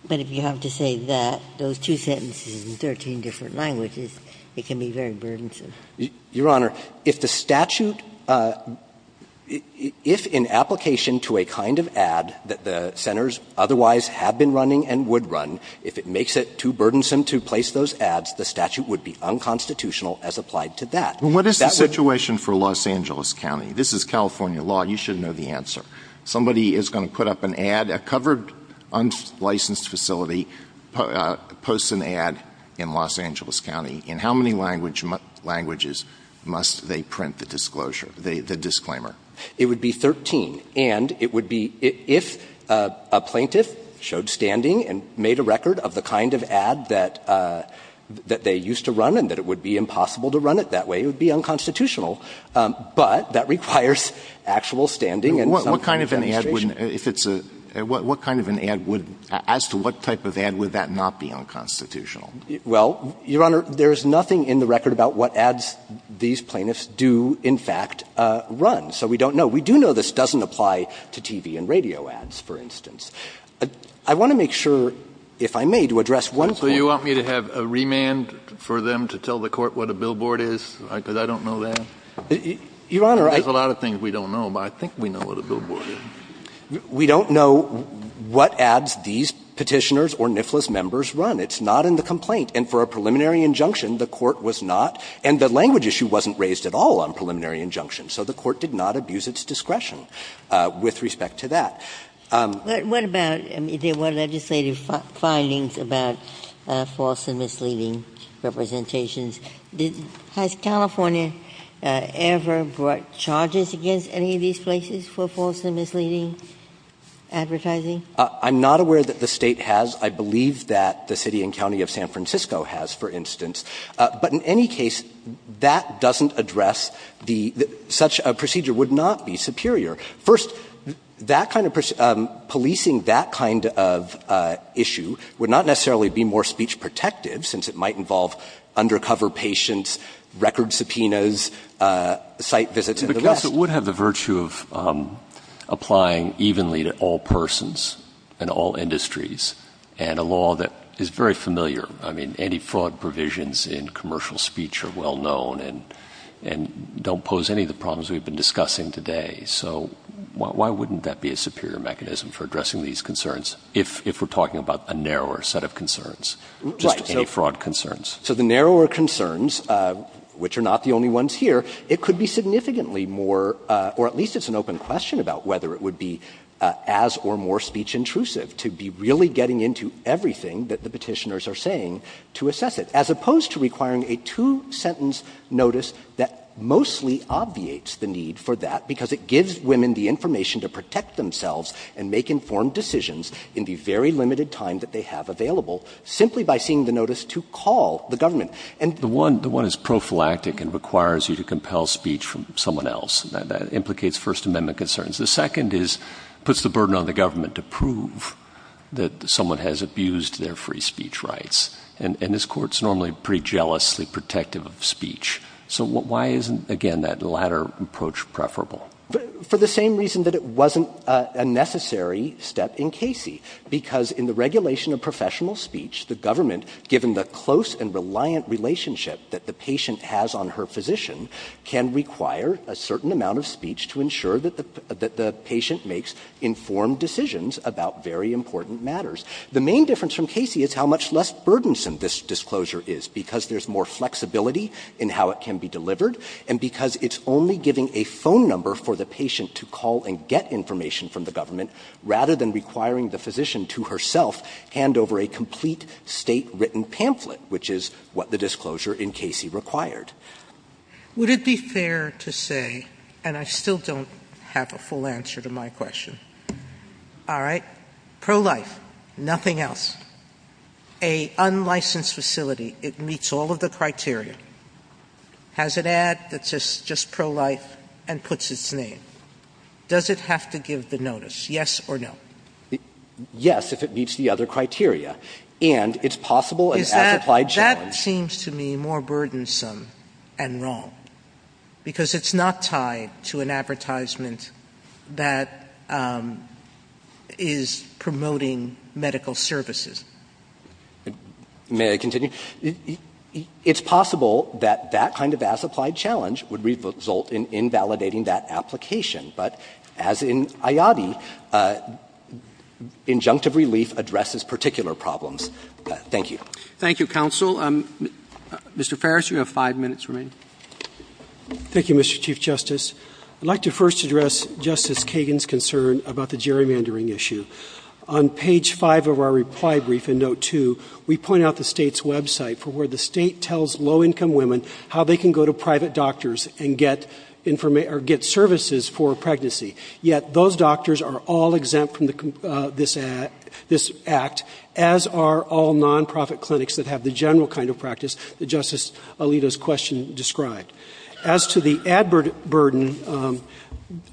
But if you have to say that, those two sentences in 13 different languages, it can be very burdensome. Your Honor, if the statute — if in application to a kind of ad that the Centers otherwise have been running and would run, if it makes it too burdensome to place those ads, the statute would be unconstitutional as applied to that. That would be — Well, what is the situation for Los Angeles County? This is California law. You should know the answer. Somebody is going to put up an ad, a covered, unlicensed facility posts an ad in Los Angeles County, in how many languages must they print the disclosure — the disclaimer? It would be 13. And it would be — if a plaintiff showed standing and made a record of the kind of ad that — that they used to run and that it would be impossible to run it that way, it would be unconstitutional. But that requires actual standing and some kind of administration. What kind of an ad would — if it's a — what kind of an ad would — as to what type of ad would that not be unconstitutional? Well, Your Honor, there is nothing in the record about what ads these plaintiffs do, in fact, run. So we don't know. We do know this doesn't apply to TV and radio ads, for instance. I want to make sure, if I may, to address one point. So you want me to have a remand for them to tell the Court what a billboard is, because I don't know that? Your Honor, I — There's a lot of things we don't know, but I think we know what a billboard is. We don't know what ads these Petitioners or NIFLAS members run. It's not in the complaint. And for a preliminary injunction, the Court was not — and the language issue wasn't raised at all on preliminary injunctions. So the Court did not abuse its discretion with respect to that. But what about — I mean, there were legislative findings about false and misleading representations. Has California ever brought charges against any of these places for false and misleading advertising? I'm not aware that the State has. I believe that the City and County of San Francisco has, for instance. But in any case, that doesn't address the — such a procedure would not be superior. First, that kind of — policing that kind of issue would not necessarily be more speech protective, since it might involve undercover patients, record subpoenas, site visits and the rest. But it would have the virtue of applying evenly to all persons and all industries and a law that is very familiar. I mean, anti-fraud provisions in commercial speech are well known and don't pose any of the problems we've been discussing today. So why wouldn't that be a superior mechanism for addressing these concerns, if we're talking about a narrower set of concerns, just anti-fraud concerns? Right. So the narrower concerns, which are not the only ones here, it could be significantly more — or at least it's an open question about whether it would be as or more speech intrusive to be really getting into everything that the Petitioners are saying to assess it, as opposed to requiring a two-sentence notice that mostly obviates the need for that, because it gives women the information to protect themselves and make informed decisions in the very limited time that they have available, simply by seeing the notice to call the government. The one is prophylactic and requires you to compel speech from someone else. That implicates First Amendment concerns. The second is, puts the burden on the government to prove that someone has abused their free speech rights. And this Court's normally pretty jealously protective of speech. So why isn't, again, that latter approach preferable? For the same reason that it wasn't a necessary step in Casey, because in the regulation of professional speech, the government, given the close and reliant relationship that the patient has on her physician, can require a certain amount of speech to ensure that the patient makes informed decisions about very important matters. The main difference from Casey is how much less burdensome this disclosure is, because there's more flexibility in how it can be delivered, and because it's only giving a phone number for the patient to call and get information from the government rather than requiring the physician to herself hand over a complete State-written pamphlet, which is what the disclosure in Casey required. Sotomayor, would it be fair to say, and I still don't have a full answer to my question. All right. Pro-life, nothing else. A unlicensed facility, it meets all of the criteria. Has it ad that says just pro-life and puts its name. Does it have to give the notice? Yes or no? Yes, if it meets the other criteria. And it's possible an as-applied challenge. That seems to me more burdensome and wrong. Because it's not tied to an advertisement that is promoting medical services. May I continue? It's possible that that kind of as-applied challenge would result in invalidating that application. But as in IADI, injunctive relief addresses particular problems. Thank you. Thank you, counsel. Mr. Farris, you have five minutes remaining. Thank you, Mr. Chief Justice. I'd like to first address Justice Kagan's concern about the gerrymandering issue. On page 5 of our reply brief in note 2, we point out the State's website for where the State tells low-income women how they can go to private doctors and get services for a pregnancy. Yet those doctors are all exempt from this act, as are all non-profit clinics that have the general kind of practice that Justice Alito's question described. As to the ad burden,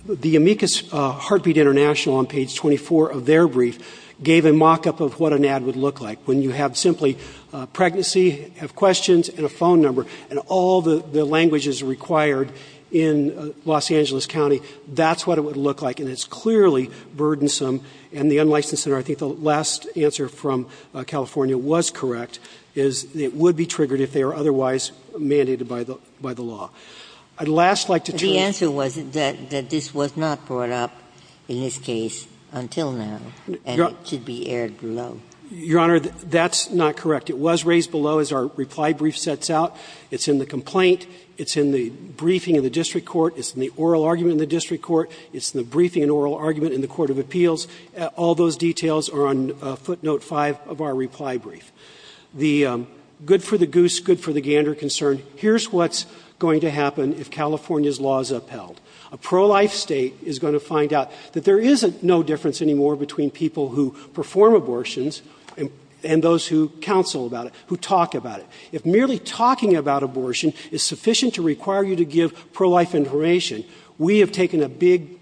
the Amicus Heartbeat International on page 24 of their brief gave a mock-up of what an ad would look like. When you have simply a pregnancy, have questions, and a phone number, and all the language is required in Los Angeles County, that's what it would look like. And it's clearly burdensome. And the unlicensed center, I think the last answer from California was correct, is it would be triggered if they were otherwise mandated by the law. I'd last like to turn to the Court's comments on this matter. The answer was that this was not brought up in this case until now, and it should be aired below. Your Honor, that's not correct. It was raised below as our reply brief sets out. It's in the complaint. It's in the briefing in the district court. It's in the oral argument in the district court. It's in the briefing and oral argument in the court of appeals. All those details are on footnote 5 of our reply brief. The good for the goose, good for the gander concern, here's what's going to happen if California's law is upheld. A pro-life State is going to find out that there is no difference anymore between the people who perform abortions and those who counsel about it, who talk about it. If merely talking about abortion is sufficient to require you to give pro-life information, we have taken a big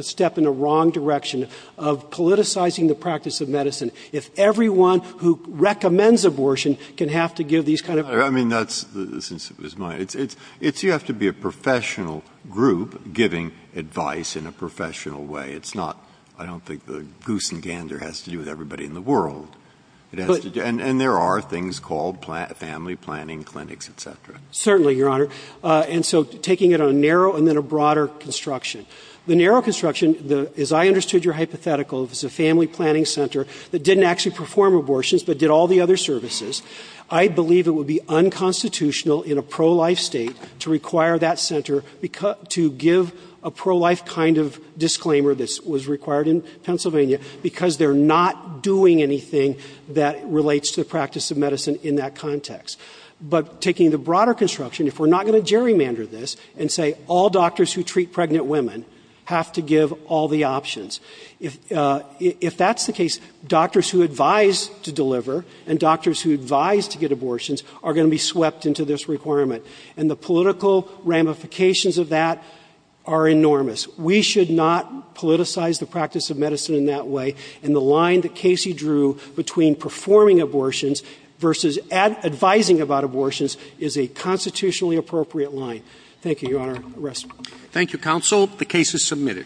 step in the wrong direction of politicizing the practice of medicine. If everyone who recommends abortion can have to give these kind of ---- Breyer, I mean, that's the sense of his mind. It's you have to be a professional group giving advice in a professional way. It's not ---- I don't think the goose and gander has to do with everybody in the world. It has to do ---- And there are things called family planning clinics, et cetera. Certainly, Your Honor. And so taking it on a narrow and then a broader construction. The narrow construction, as I understood your hypothetical, it was a family planning center that didn't actually perform abortions but did all the other services. I believe it would be unconstitutional in a pro-life State to require that center to give a pro-life kind of disclaimer that was required in Pennsylvania because they're not doing anything that relates to the practice of medicine in that context. But taking the broader construction, if we're not going to gerrymander this and say all doctors who treat pregnant women have to give all the options, if that's the case, doctors who advise to deliver and doctors who advise to get abortions are going to be swept into this requirement. And the political ramifications of that are enormous. We should not politicize the practice of medicine in that way. And the line that Casey drew between performing abortions versus advising about abortions is a constitutionally appropriate line. Thank you, Your Honor. Rest. Thank you, counsel. The case is submitted.